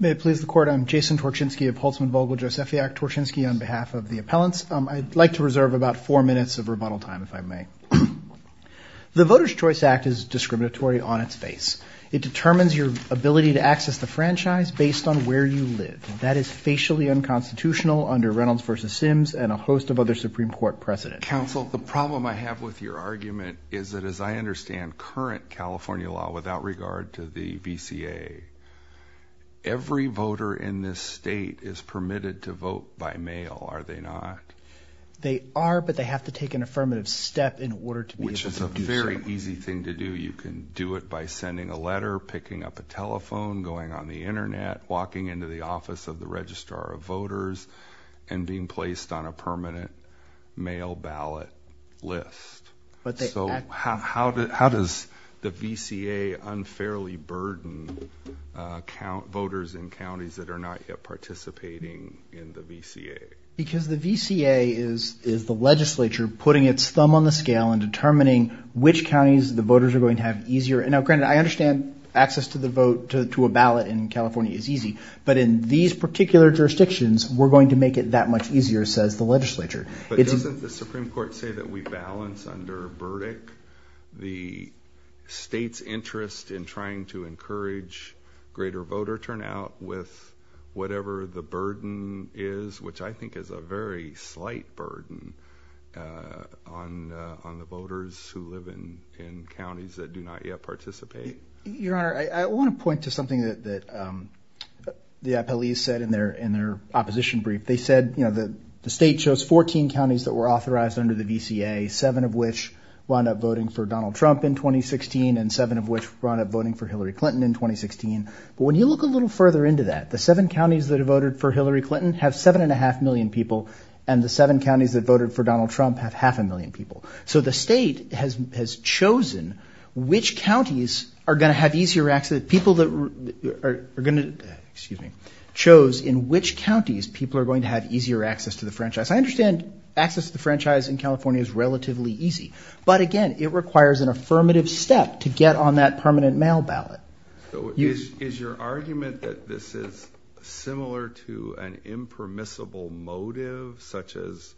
May it please the Court, I'm Jason Torchinsky of Holtzman Vogel Josephiak Torchinsky on behalf of the appellants. I'd like to reserve about four minutes of rebuttal time if I may. The Voters Choice Act is discriminatory on its face. It determines your ability to access the franchise based on where you live. That is facially unconstitutional under Reynolds v. Sims and a host of other Supreme Court precedents. Counsel, the problem I have with your argument is that as I understand current California law without regard to the VCA, every voter in this state is permitted to vote by mail, are they not? They are, but they have to take an affirmative step in order to be able to do so. It's a very easy thing to do. You can do it by sending a letter, picking up a telephone, going on the internet, walking into the office of the Registrar of Voters, and being placed on a permanent mail ballot list. How does the VCA unfairly burden voters in counties that are not yet participating in the VCA? Because the VCA is the legislature putting its thumb on the scale and determining which counties the voters are going to have easier. Now granted, I understand access to a ballot in California is easy, but in these particular jurisdictions, we're going to make it that much easier, says the legislature. But doesn't the Supreme Court say that we balance under Burdick the state's interest in trying to encourage greater voter turnout with whatever the burden is, which I think is a very slight burden on the voters who live in counties that do not yet participate? Your Honor, I want to point to something that the appellees said in their opposition brief. They said the state chose 14 counties that were authorized under the VCA, seven of which wound up voting for Donald Trump in 2016, and seven of which wound up voting for Hillary Clinton in 2016. But when you look a little further into that, the seven counties that have voted for Hillary Clinton have seven and a half million people, and the seven counties that voted for Donald Trump have half a million people. So the state has chosen which counties are going to have easier access, people that are going to, excuse me, chose in which counties people are going to have easier access to the franchise. I understand access to the franchise in California is relatively easy, but again, it requires an affirmative step to get on that permanent mail ballot. Is your argument that this is similar to an impermissible motive, such as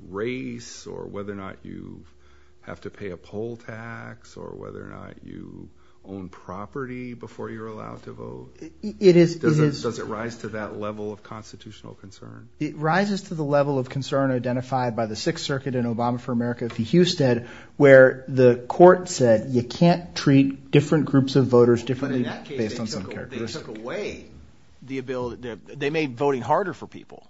race or whether or not you have to pay a poll tax or whether or not you own property before you're allowed to vote? It is. Does it rise to that level of constitutional concern? It rises to the level of concern identified by the Sixth Circuit in Obama for America v. Husted, where the court said you can't treat different groups of voters differently based on some characteristics. But in that case, they took away the ability – they made voting harder for people.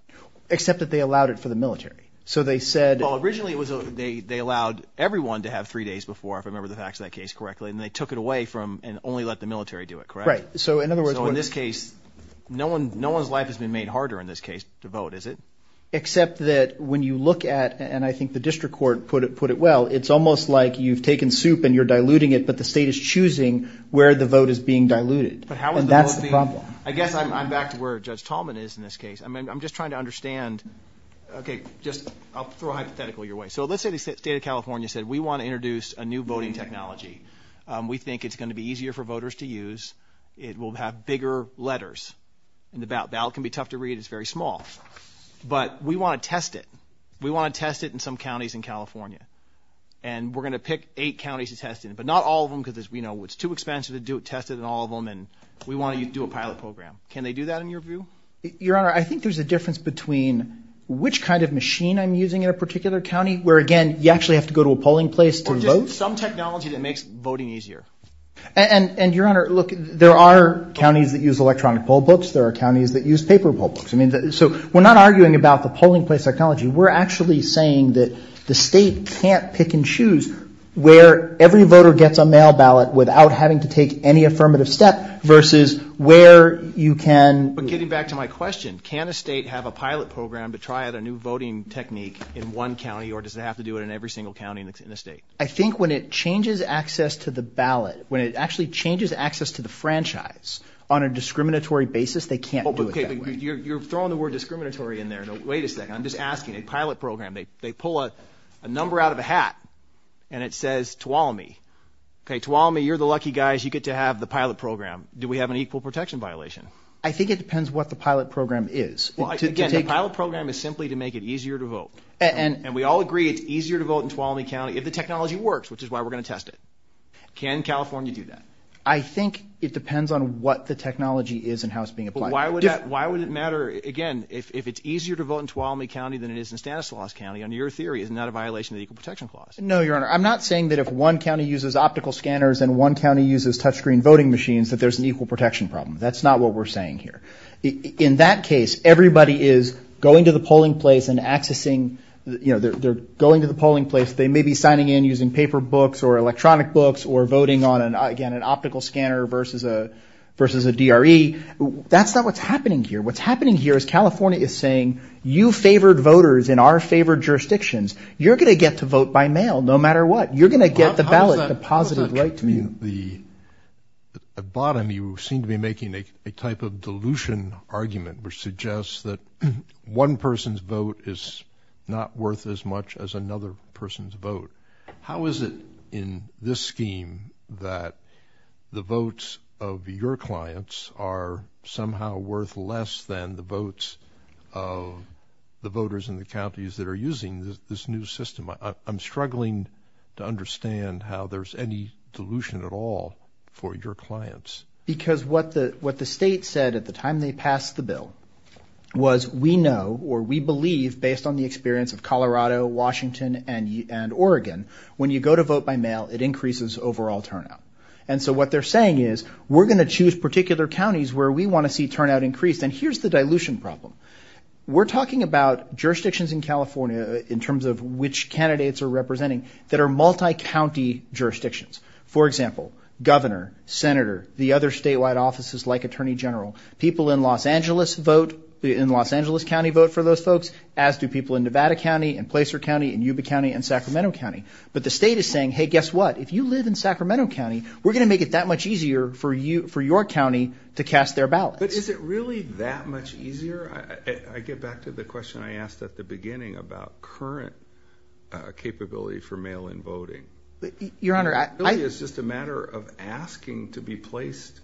Except that they allowed it for the military. So they said – Well, originally it was – they allowed everyone to have three days before, if I remember the facts of that case correctly, and they took it away from – and only let the military do it, correct? Right. So in other words – So in this case, no one's life has been made harder in this case to vote, is it? Except that when you look at – and I think the district court put it well – it's almost like you've taken soup and you're diluting it, but the state is choosing where the vote is being diluted. But how is the vote being – And that's the problem. I guess I'm back to where Judge Tallman is in this case. I mean, I'm just trying to understand – okay, just – I'll throw a hypothetical your way. So let's say the state of California said, we want to introduce a new voting technology. We think it's going to be easier for voters to use. It will have bigger letters. And the ballot can be tough to read. It's very small. But we want to test it. We want to test it in some counties in California. And we're going to pick eight counties to test it in. But not all of them, because as we know, it's too expensive to test it in all of them, and we want to do a pilot program. Can they do that in your view? Your Honor, I think there's a difference between which kind of machine I'm using in a particular county, where, again, you actually have to go to a polling place to vote. Or just some technology that makes voting easier. And, Your Honor, look, there are counties that use electronic poll books. There are counties that use paper poll books. I mean, so we're not arguing about the polling place technology. We're actually saying that the state can't pick and choose where every voter gets a mail ballot without having to take any affirmative step versus where you can – But getting back to my question, can a state have a pilot program to try out a new voting technique in one county, or does it have to do it in every single county in the state? I think when it changes access to the ballot, when it actually changes access to the franchise on a discriminatory basis, they can't do it that way. Okay, but you're throwing the word discriminatory in there. Wait a second. I'm just asking. A pilot program, they pull a number out of a hat, and it says Tuolumne. Okay, Tuolumne, you're the lucky guys. You get to have the pilot program. Do we have an equal protection violation? I think it depends what the pilot program is. Well, again, the pilot program is simply to make it easier to vote. And we all agree it's easier to vote in Tuolumne County if the technology works, which is why we're going to test it. Can California do that? I think it depends on what the technology is and how it's being applied. But why would that – why would it matter – again, if it's easier to vote in Tuolumne County than it is in Stanislaus County, under your theory, isn't that a violation of the equal protection clause? No, Your Honor. I'm not saying that if one county uses optical scanners and one county uses touchscreen voting machines that there's an equal protection problem. That's not what we're saying here. In that case, everybody is going to the polling place and accessing – you know, they're going to the polling place. They may be signing in using paper books or electronic books or voting on, again, an optical scanner versus a DRE. That's not what's happening here. What's happening here is California is saying you favored voters in our favored jurisdictions. You're going to get to vote by mail no matter what. You're going to get the ballot deposited right to you. At bottom, you seem to be making a type of dilution argument which suggests that one person's vote is not worth as much as another person's vote. How is it in this scheme that the votes of your clients are somehow worth less than the votes of the voters in the counties that are using this new system? I'm struggling to understand how there's any dilution at all for your clients. Because what the state said at the time they passed the bill was we know or we believe, based on the experience of Colorado, Washington, and Oregon, when you go to vote by mail, it increases overall turnout. And so what they're saying is we're going to choose particular counties where we want to see turnout increase. And here's the dilution problem. We're talking about jurisdictions in California in terms of which candidates are representing that are multi-county jurisdictions. For example, governor, senator, the other statewide offices like attorney general, people in Los Angeles vote, in Los Angeles County vote for those folks, as do people in Nevada County and Placer County and Yuba County and Sacramento County. But the state is saying, hey, guess what? If you live in Sacramento County, we're going to make it that much easier for your county to cast their ballots. But is it really that much easier? I get back to the question I asked at the beginning about current capability for mail-in voting. Your Honor, I — It really is just a matter of asking to be placed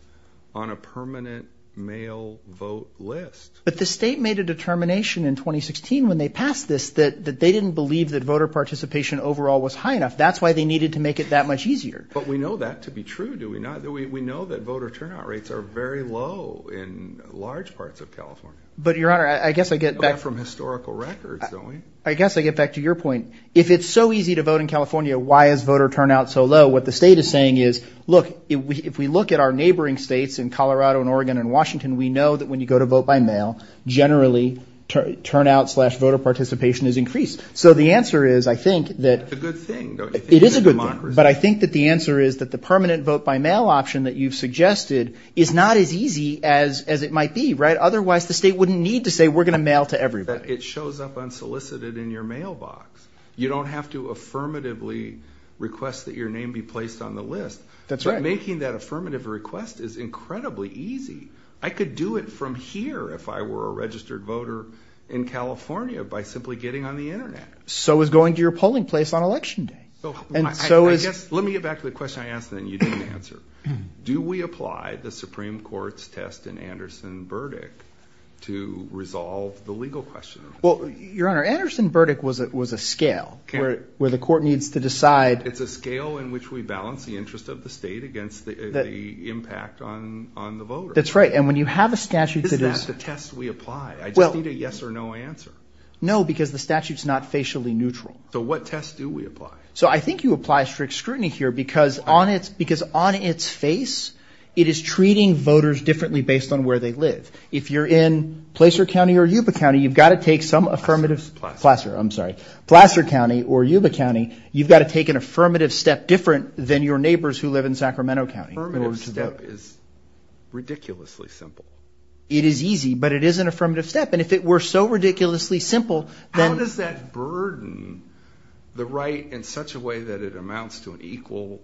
on a permanent mail vote list. But the state made a determination in 2016 when they passed this that they didn't believe that voter participation overall was high enough. That's why they needed to make it that much easier. But we know that to be true, do we not? We know that voter turnout rates are very low in large parts of California. But, Your Honor, I guess I get back — Apart from historical records, don't we? I guess I get back to your point. If it's so easy to vote in California, why is voter turnout so low? What the state is saying is, look, if we look at our neighboring states in Colorado and Oregon and Washington, we know that when you go to vote by mail, generally, turnout slash voter participation is increased. So the answer is, I think, that — It's a good thing, don't you think? It is a good thing. But I think that the answer is that the permanent vote by mail option that you've suggested is not as easy as it might be, right? Otherwise, the state wouldn't need to say, we're going to mail to everybody. But it shows up unsolicited in your mailbox. You don't have to affirmatively request that your name be placed on the list. That's right. But making that affirmative request is incredibly easy. I could do it from here if I were a registered voter in California by simply getting on the Internet. So is going to your polling place on Election Day. Let me get back to the question I asked and you didn't answer. Do we apply the Supreme Court's test in Anderson-Burdick to resolve the legal question? Well, Your Honor, Anderson-Burdick was a scale where the court needs to decide — It's a scale in which we balance the interest of the state against the impact on the voter. That's right. And when you have a statute that is — Is that the test we apply? I just need a yes or no answer. No, because the statute is not facially neutral. So what test do we apply? So I think you apply strict scrutiny here because on its face, it is treating voters differently based on where they live. If you're in Placer County or Yuba County, you've got to take some affirmative — Placer. Placer, I'm sorry. Placer County or Yuba County, you've got to take an affirmative step different than your neighbors who live in Sacramento County. Affirmative step is ridiculously simple. It is easy, but it is an affirmative step. And if it were so ridiculously simple, then — In such a way that it amounts to an equal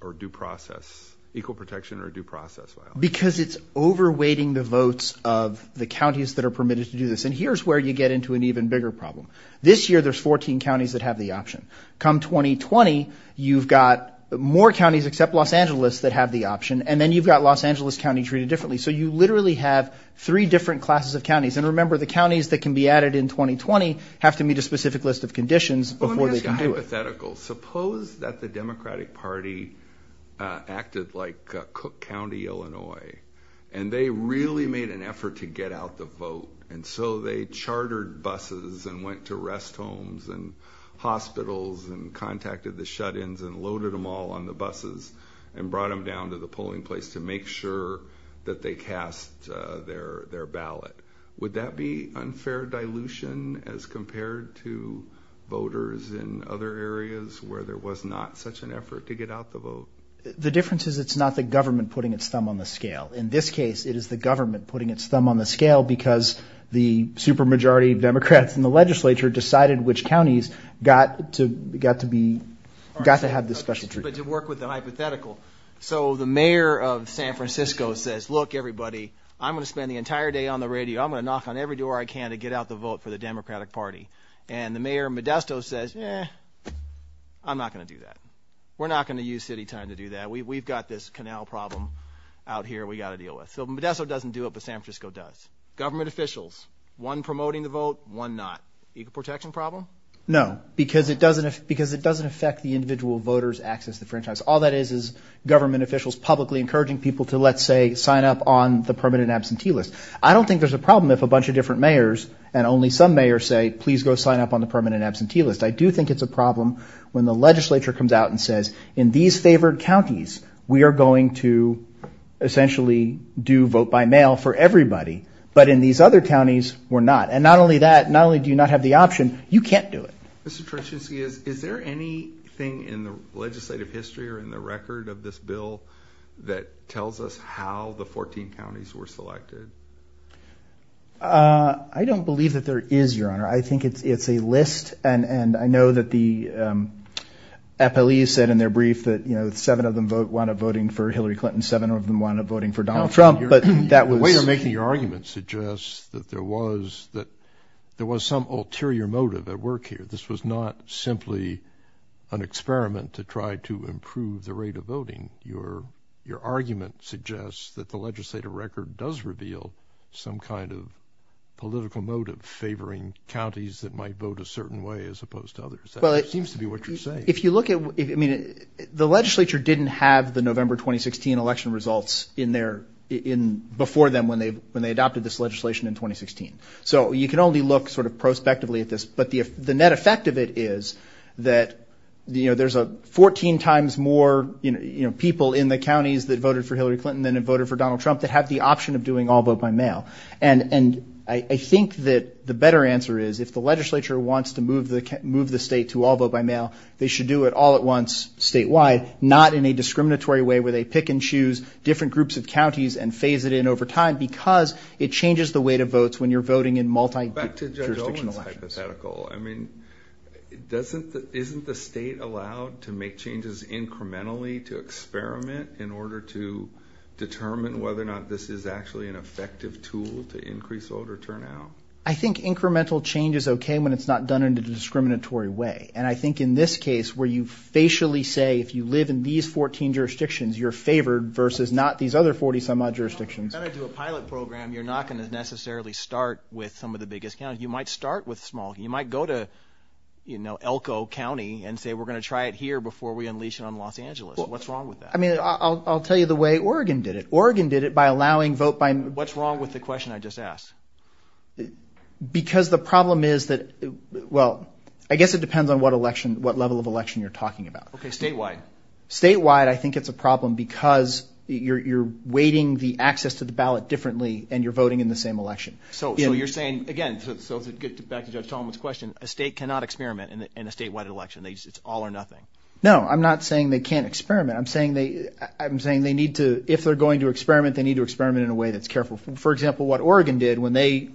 or due process — equal protection or due process file. Because it's overweighting the votes of the counties that are permitted to do this. And here's where you get into an even bigger problem. This year, there's 14 counties that have the option. Come 2020, you've got more counties except Los Angeles that have the option. And then you've got Los Angeles County treated differently. So you literally have three different classes of counties. And remember, the counties that can be added in 2020 have to meet a specific list of conditions before they can do it. Hypothetical. Suppose that the Democratic Party acted like Cook County, Illinois. And they really made an effort to get out the vote. And so they chartered buses and went to rest homes and hospitals and contacted the shut-ins and loaded them all on the buses. And brought them down to the polling place to make sure that they cast their ballot. Would that be unfair dilution as compared to voters in other areas where there was not such an effort to get out the vote? The difference is it's not the government putting its thumb on the scale. In this case, it is the government putting its thumb on the scale because the supermajority Democrats in the legislature decided which counties got to be — got to have this special treatment. But to work with the hypothetical. So the mayor of San Francisco says, look, everybody, I'm going to spend the entire day on the radio. I'm going to knock on every door I can to get out the vote for the Democratic Party. And the mayor of Modesto says, eh, I'm not going to do that. We're not going to use city time to do that. We've got this canal problem out here we've got to deal with. So Modesto doesn't do it, but San Francisco does. Government officials, one promoting the vote, one not. Equal protection problem? No, because it doesn't affect the individual voters' access to the franchise. All that is is government officials publicly encouraging people to, let's say, sign up on the permanent absentee list. I don't think there's a problem if a bunch of different mayors and only some mayors say, please go sign up on the permanent absentee list. I do think it's a problem when the legislature comes out and says, in these favored counties, we are going to essentially do vote by mail for everybody. But in these other counties, we're not. And not only that, not only do you not have the option, you can't do it. Mr. Truchynski, is there anything in the legislative history or in the record of this bill that tells us how the 14 counties were selected? I don't believe that there is, Your Honor. I think it's a list, and I know that the appellees said in their brief that, you know, seven of them wound up voting for Hillary Clinton, seven of them wound up voting for Donald Trump. The way you're making your argument suggests that there was some ulterior motive at work here. This was not simply an experiment to try to improve the rate of voting. Your argument suggests that the legislative record does reveal some kind of political motive favoring counties that might vote a certain way as opposed to others. That seems to be what you're saying. The legislature didn't have the November 2016 election results before them when they adopted this legislation in 2016. So you can only look sort of prospectively at this. But the net effect of it is that, you know, there's 14 times more people in the counties that voted for Hillary Clinton than had voted for Donald Trump that have the option of doing all vote by mail. And I think that the better answer is if the legislature wants to move the state to all vote by mail, they should do it all at once statewide, not in a discriminatory way where they pick and choose different groups of counties and phase it in over time because it changes the way it votes when you're voting in multi-jurisdictional elections. I mean, isn't the state allowed to make changes incrementally to experiment in order to determine whether or not this is actually an effective tool to increase voter turnout? I think incremental change is okay when it's not done in a discriminatory way. And I think in this case where you facially say if you live in these 14 jurisdictions, you're favored versus not these other 40-some-odd jurisdictions. If you're going to do a pilot program, you're not going to necessarily start with some of the biggest counties. You might start with small. You might go to, you know, Elko County and say we're going to try it here before we unleash it on Los Angeles. What's wrong with that? I mean, I'll tell you the way Oregon did it. Oregon did it by allowing vote by mail. What's wrong with the question I just asked? Because the problem is that – well, I guess it depends on what election – what level of election you're talking about. Okay, statewide. Statewide, I think it's a problem because you're weighting the access to the ballot differently and you're voting in the same election. So you're saying, again, so to get back to Judge Tolman's question, a state cannot experiment in a statewide election. It's all or nothing. No, I'm not saying they can't experiment. I'm saying they need to – if they're going to experiment, they need to experiment in a way that's careful. For example, what Oregon did when they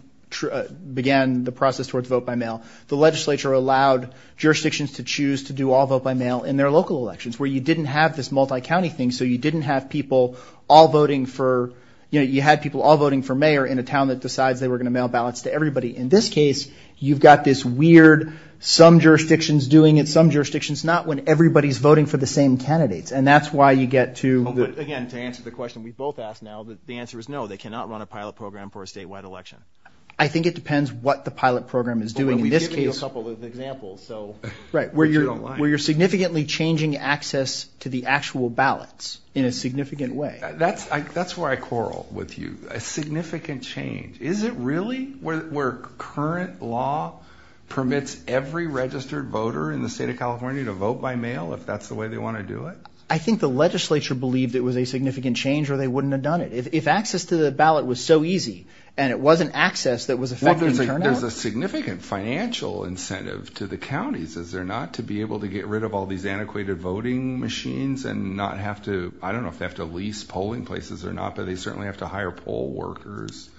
began the process towards vote by mail, the legislature allowed jurisdictions to choose to do all vote by mail in their local elections where you didn't have this multi-county thing. So you didn't have people all voting for – you had people all voting for mayor in a town that decides they were going to mail ballots to everybody. In this case, you've got this weird some jurisdictions doing it, some jurisdictions not, when everybody's voting for the same candidates. And that's why you get to the – I think it depends what the pilot program is doing in this case. Well, we've given you a couple of examples. Right, where you're significantly changing access to the actual ballots in a significant way. That's where I quarrel with you. A significant change. Is it really where current law permits every registered voter in the state of California to vote by mail if that's the way they want to do it? I think the legislature believed it was a significant change or they wouldn't have done it. If access to the ballot was so easy and it wasn't access that was affecting turnout. There's a significant financial incentive to the counties, is there, not to be able to get rid of all these antiquated voting machines and not have to – I don't know if they have to lease polling places or not, but they certainly have to hire poll workers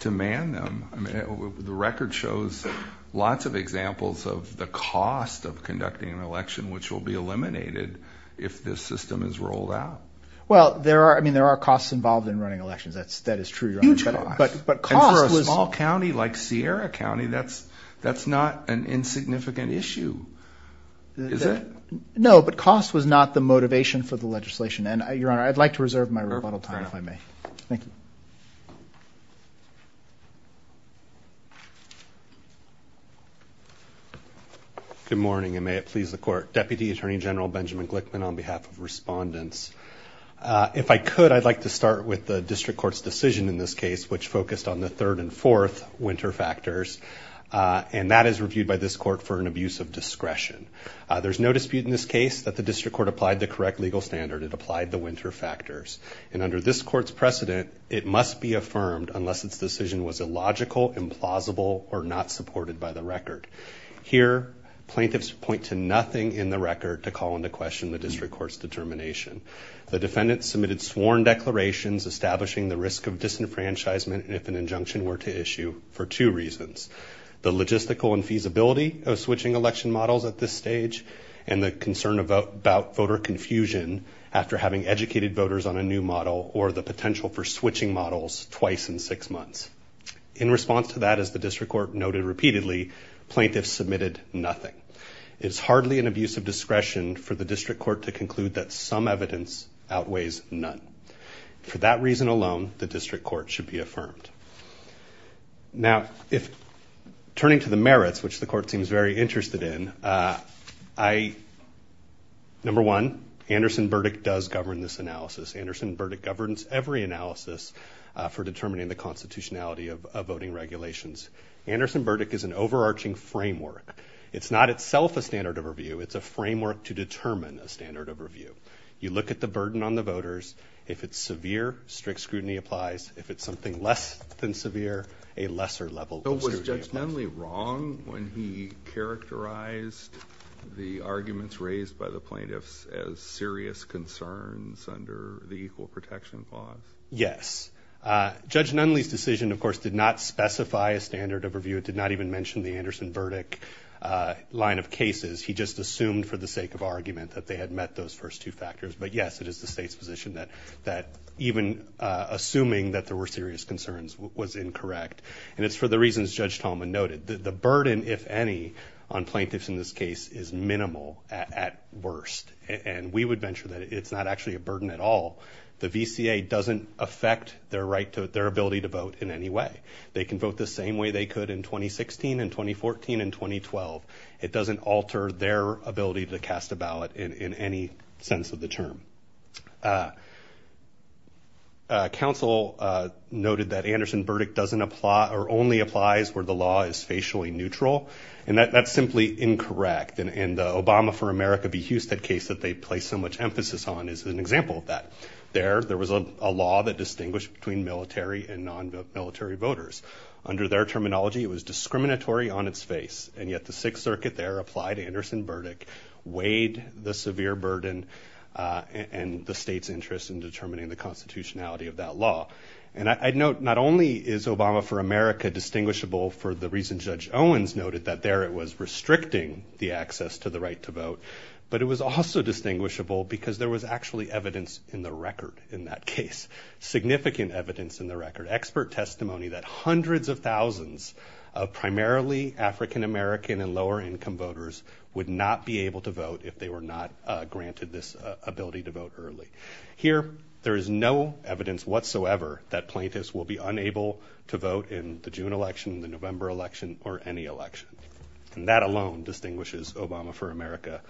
to man them. The record shows lots of examples of the cost of conducting an election which will be eliminated if this system is rolled out. Well, there are costs involved in running elections. That is true, Your Honor. Huge costs. And for a small county like Sierra County, that's not an insignificant issue, is it? No, but cost was not the motivation for the legislation. And, Your Honor, I'd like to reserve my rebuttal time if I may. Thank you. Good morning and may it please the Court. Deputy Attorney General Benjamin Glickman on behalf of respondents. If I could, I'd like to start with the district court's decision in this case, which focused on the third and fourth winter factors. And that is reviewed by this court for an abuse of discretion. There's no dispute in this case that the district court applied the correct legal standard. It applied the winter factors. And under this court's precedent, it must be affirmed unless its decision was illogical, implausible, or not supported by the record. Here, plaintiffs point to nothing in the record to call into question the district court's determination. The defendants submitted sworn declarations establishing the risk of disenfranchisement if an injunction were to issue for two reasons. The logistical infeasibility of switching election models at this stage and the concern about voter confusion after having educated voters on a new model or the potential for switching models twice in six months. In response to that, as the district court noted repeatedly, plaintiffs submitted nothing. It's hardly an abuse of discretion for the district court to conclude that some evidence outweighs none. For that reason alone, the district court should be affirmed. Now, turning to the merits, which the court seems very interested in, number one, Anderson verdict does govern this analysis. Anderson verdict governs every analysis for determining the constitutionality of voting regulations. Anderson verdict is an overarching framework. It's not itself a standard of review. It's a framework to determine a standard of review. You look at the burden on the voters. If it's severe, strict scrutiny applies. If it's something less than severe, a lesser level of scrutiny applies. Was Judge Nunley wrong when he characterized the arguments raised by the plaintiffs as serious concerns under the equal protection clause? Yes. Judge Nunley's decision, of course, did not specify a standard of review. It did not even mention the Anderson verdict line of cases. He just assumed for the sake of argument that they had met those first two factors. But, yes, it is the state's position that even assuming that there were serious concerns was incorrect. And it's for the reasons Judge Tolman noted. The burden, if any, on plaintiffs in this case is minimal at worst. And we would venture that it's not actually a burden at all. The VCA doesn't affect their ability to vote in any way. They can vote the same way they could in 2016 and 2014 and 2012. It doesn't alter their ability to cast a ballot in any sense of the term. Counsel noted that Anderson verdict doesn't apply or only applies where the law is facially neutral. And that's simply incorrect. And the Obama for America v. Husted case that they placed so much emphasis on is an example of that. There, there was a law that distinguished between military and non-military voters. Under their terminology, it was discriminatory on its face. And yet the Sixth Circuit there applied Anderson verdict, weighed the severe burden and the state's interest in determining the constitutionality of that law. And I note not only is Obama for America distinguishable for the reason Judge Owens noted that there it was restricting the access to the right to vote. But it was also distinguishable because there was actually evidence in the record in that case. Significant evidence in the record. Expert testimony that hundreds of thousands of primarily African American and lower income voters would not be able to vote if they were not granted this ability to vote early. Here, there is no evidence whatsoever that plaintiffs will be unable to vote in the June election, the November election, or any election. And that alone distinguishes Obama for America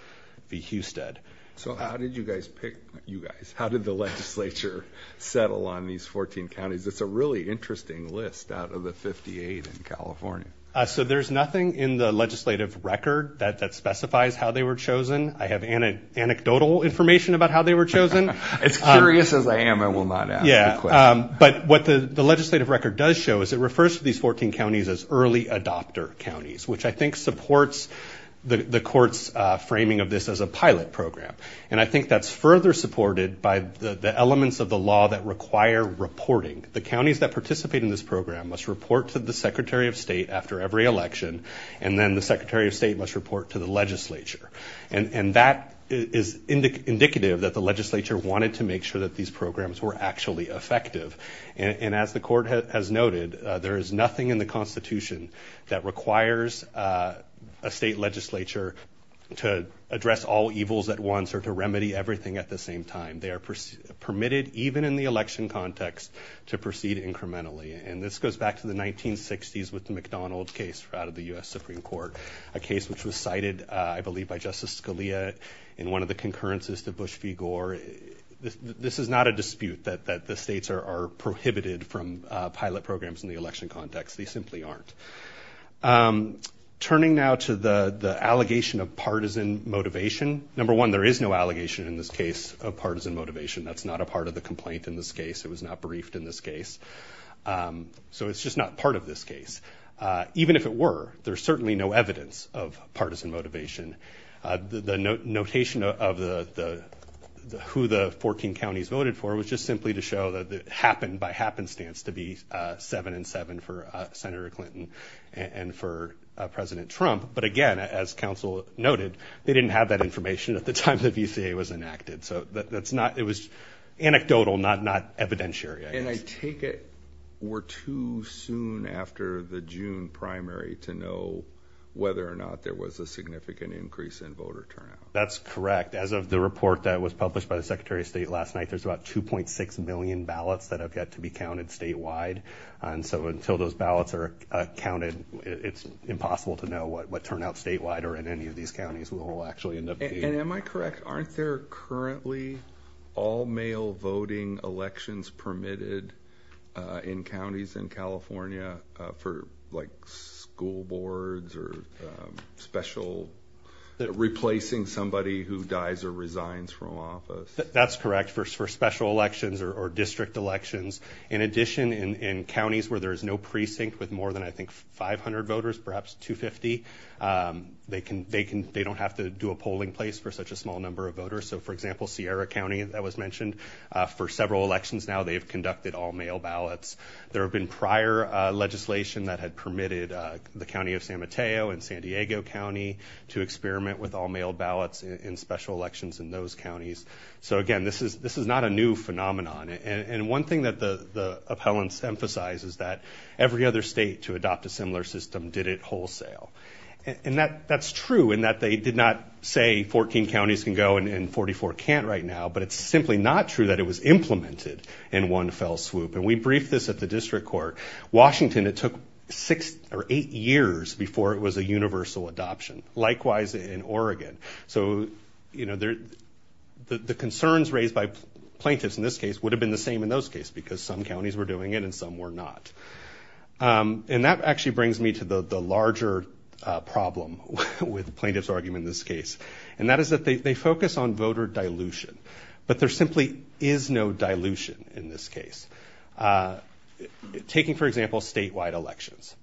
v. Husted. So how did you guys pick, you guys, how did the legislature settle on these 14 counties? It's a really interesting list out of the 58 in California. So there's nothing in the legislative record that specifies how they were chosen. I have anecdotal information about how they were chosen. As curious as I am, I will not ask the question. Yeah, but what the legislative record does show is it refers to these 14 counties as early adopter counties, which I think supports the court's framing of this as a pilot program. And I think that's further supported by the elements of the law that require reporting. The counties that participate in this program must report to the Secretary of State after every election, and then the Secretary of State must report to the legislature. And that is indicative that the legislature wanted to make sure that these programs were actually effective. And as the court has noted, there is nothing in the Constitution that requires a state legislature to address all evils at once or to remedy everything at the same time. They are permitted, even in the election context, to proceed incrementally. And this goes back to the 1960s with the McDonald case out of the U.S. Supreme Court, a case which was cited, I believe, by Justice Scalia in one of the concurrences to Bush v. Gore. This is not a dispute that the states are prohibited from pilot programs in the election context. They simply aren't. Turning now to the allegation of partisan motivation. Number one, there is no allegation in this case of partisan motivation. That's not a part of the complaint in this case. It was not briefed in this case. So it's just not part of this case. Even if it were, there's certainly no evidence of partisan motivation. The notation of who the 14 counties voted for was just simply to show that it happened by happenstance to be 7-7 for Senator Clinton and for President Trump. But, again, as counsel noted, they didn't have that information at the time the VCA was enacted. So it was anecdotal, not evidentiary. And I take it we're too soon after the June primary to know whether or not there was a significant increase in voter turnout. That's correct. As of the report that was published by the Secretary of State last night, there's about 2.6 million ballots that have yet to be counted statewide. And so until those ballots are counted, it's impossible to know what turnout statewide or in any of these counties will actually end up being. And am I correct, aren't there currently all-male voting elections permitted in counties in California for, like, school boards or special, replacing somebody who dies or resigns from office? That's correct, for special elections or district elections. In addition, in counties where there is no precinct with more than, I think, 500 voters, perhaps 250, they don't have to do a polling place for such a small number of voters. So, for example, Sierra County, that was mentioned, for several elections now they've conducted all-male ballots. There have been prior legislation that had permitted the county of San Mateo and San Diego County to experiment with all-male ballots in special elections in those counties. So, again, this is not a new phenomenon. And one thing that the appellants emphasize is that every other state to adopt a similar system did it wholesale. And that's true in that they did not say 14 counties can go and 44 can't right now, but it's simply not true that it was implemented in one fell swoop. And we briefed this at the district court. Washington, it took six or eight years before it was a universal adoption. Likewise in Oregon. So, you know, the concerns raised by plaintiffs in this case would have been the same in those cases because some counties were doing it and some were not. And that actually brings me to the larger problem with plaintiff's argument in this case. And that is that they focus on voter dilution. But there simply is no dilution in this case. Taking, for example, statewide elections.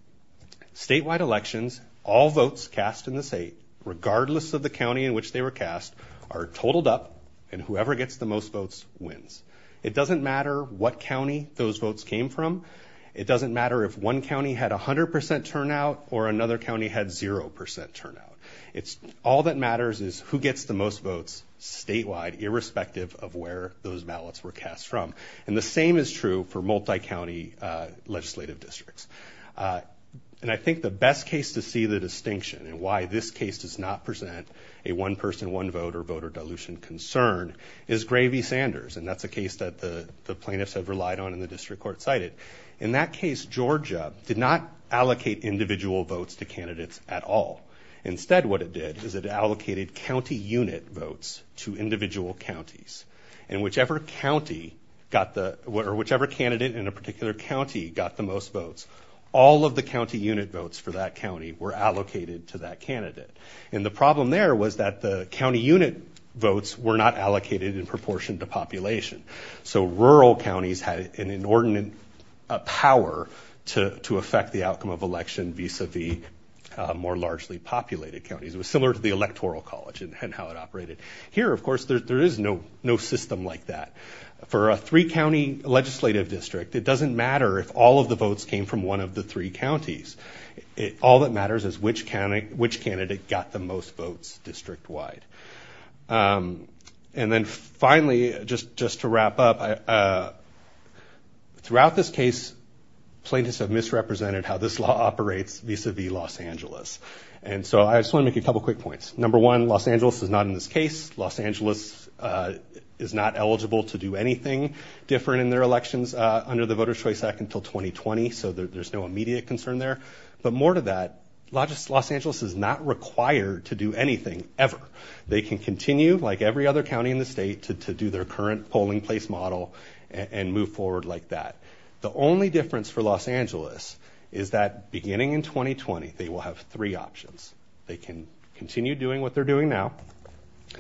Statewide elections, all votes cast in the state, regardless of the county in which they were cast, are totaled up, and whoever gets the most votes wins. It doesn't matter what county those votes came from. It doesn't matter if one county had 100% turnout or another county had 0% turnout. All that matters is who gets the most votes statewide, irrespective of where those ballots were cast from. And the same is true for multi-county legislative districts. And I think the best case to see the distinction and why this case does not present a one-person, one-voter voter dilution concern is Gravy-Sanders. And that's a case that the plaintiffs have relied on and the district court cited. In that case, Georgia did not allocate individual votes to candidates at all. Instead, what it did is it allocated county unit votes to individual counties. And whichever county got the – or whichever candidate in a particular county got the most votes, all of the county unit votes for that county were allocated to that candidate. And the problem there was that the county unit votes were not allocated in proportion to population. So rural counties had an inordinate power to affect the outcome of election vis-a-vis more largely populated counties. It was similar to the Electoral College and how it operated. Here, of course, there is no system like that. For a three-county legislative district, it doesn't matter if all of the votes came from one of the three counties. All that matters is which candidate got the most votes district-wide. And then finally, just to wrap up, throughout this case, plaintiffs have misrepresented how this law operates vis-a-vis Los Angeles. And so I just want to make a couple quick points. Number one, Los Angeles is not in this case. Los Angeles is not eligible to do anything different in their elections under the Voter's Choice Act until 2020. So there's no immediate concern there. But more to that, Los Angeles is not required to do anything, ever. They can continue, like every other county in the state, to do their current polling place model and move forward like that. The only difference for Los Angeles is that beginning in 2020, they will have three options. They can continue doing what they're doing now.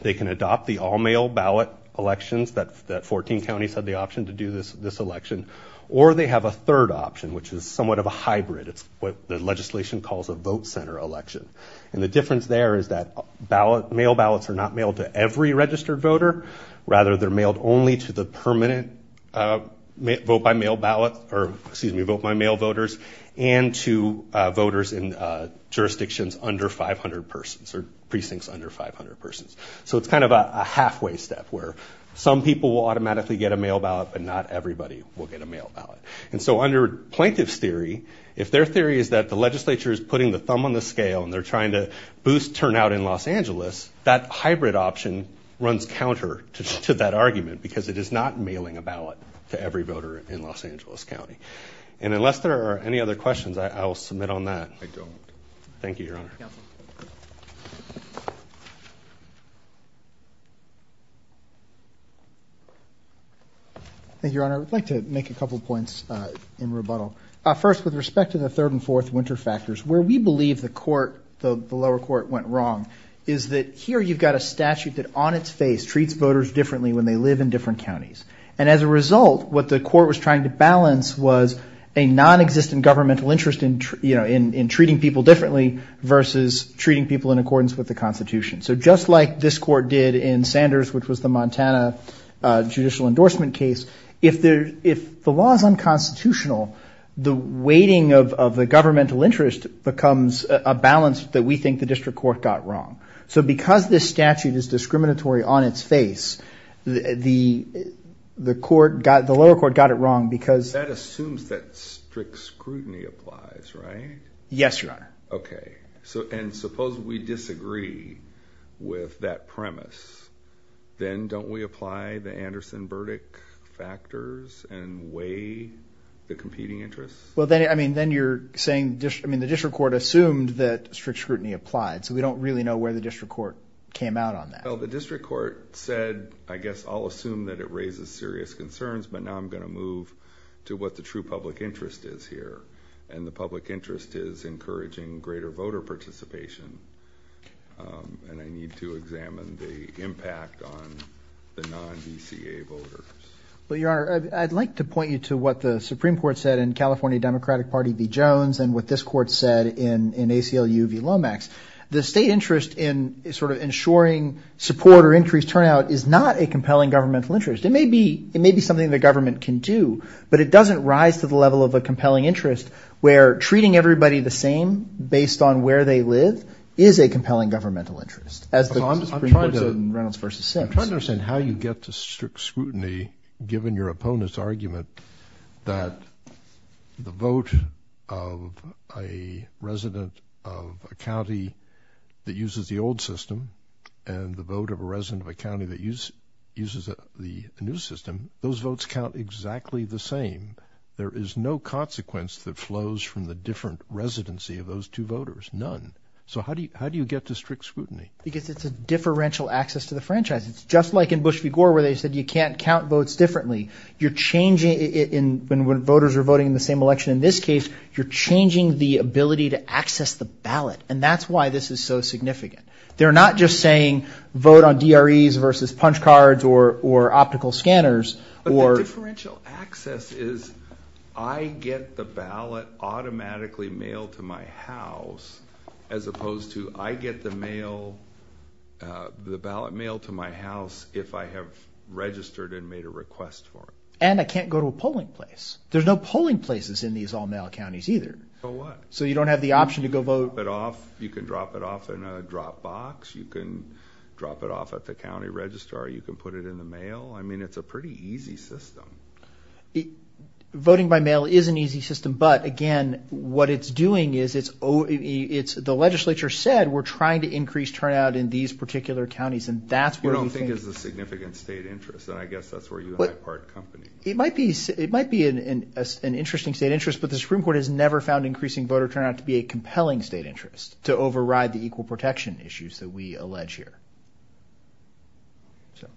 They can adopt the all-mail ballot elections that 14 counties had the option to do this election. Or they have a third option, which is somewhat of a hybrid. It's what the legislation calls a vote center election. And the difference there is that mail ballots are not mailed to every registered voter. Rather, they're mailed only to the permanent vote-by-mail ballot or, excuse me, vote-by-mail voters, and to voters in jurisdictions under 500 persons or precincts under 500 persons. So it's kind of a halfway step where some people will automatically get a mail ballot, but not everybody will get a mail ballot. And so under plaintiff's theory, if their theory is that the legislature is putting the thumb on the scale and they're trying to boost turnout in Los Angeles, that hybrid option runs counter to that argument because it is not mailing a ballot to every voter in Los Angeles County. And unless there are any other questions, I will submit on that. I don't. Thank you, Your Honor. Thank you, Your Honor. I would like to make a couple of points in rebuttal. First, with respect to the third and fourth winter factors, where we believe the court, the lower court, went wrong is that here you've got a statute that on its face treats voters differently when they live in different counties. And as a result, what the court was trying to balance was a nonexistent governmental interest in, you know, in treating people differently versus treating people in accordance with the Constitution. So just like this court did in Sanders, which was the Montana judicial endorsement case, if the law is unconstitutional, the weighting of the governmental interest becomes a balance that we think the district court got wrong. So because this statute is discriminatory on its face, the lower court got it wrong because- That assumes that strict scrutiny applies, right? Yes, Your Honor. Okay. And suppose we disagree with that premise. Then don't we apply the Anderson verdict factors and weigh the competing interests? Well, then you're saying- I mean, the district court assumed that strict scrutiny applied. So we don't really know where the district court came out on that. Well, the district court said, I guess I'll assume that it raises serious concerns, but now I'm going to move to what the true public interest is here. And the public interest is encouraging greater voter participation. And I need to examine the impact on the non-VCA voters. Well, Your Honor, I'd like to point you to what the Supreme Court said in California Democratic Party v. Jones and what this court said in ACLU v. Lomax. The state interest in sort of ensuring support or increased turnout is not a compelling governmental interest. It may be something the government can do, but it doesn't rise to the level of a compelling interest where treating everybody the same based on where they live is a compelling governmental interest. I'm trying to understand how you get to strict scrutiny given your opponent's argument that the vote of a resident of a county that uses the old system and the vote of a resident of a county that uses the new system, those votes count exactly the same. There is no consequence that flows from the different residency of those two voters. None. So how do you get to strict scrutiny? Because it's a differential access to the franchise. It's just like in Bush v. Gore where they said you can't count votes differently. You're changing it when voters are voting in the same election. In this case, you're changing the ability to access the ballot. And that's why this is so significant. They're not just saying vote on DREs versus punch cards or optical scanners. But the differential access is I get the ballot automatically mailed to my house as opposed to I get the ballot mailed to my house if I have registered and made a request for it. And I can't go to a polling place. There's no polling places in these all-male counties either. So what? So you don't have the option to go vote. You can drop it off. You can drop it off in a drop box. You can drop it off at the county registrar. You can put it in the mail. I mean, it's a pretty easy system. Voting by mail is an easy system. But, again, what it's doing is it's the legislature said we're trying to increase turnout in these particular counties, and that's where we think. We don't think it's a significant state interest, and I guess that's where you and I part company. It might be an interesting state interest, but the Supreme Court has never found increasing voter turnout to be a compelling state interest to override the equal protection issues that we allege here. So,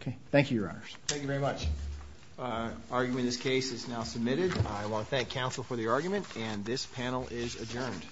okay. Thank you, Your Honors. Thank you very much. Argument in this case is now submitted. I want to thank counsel for the argument, and this panel is adjourned.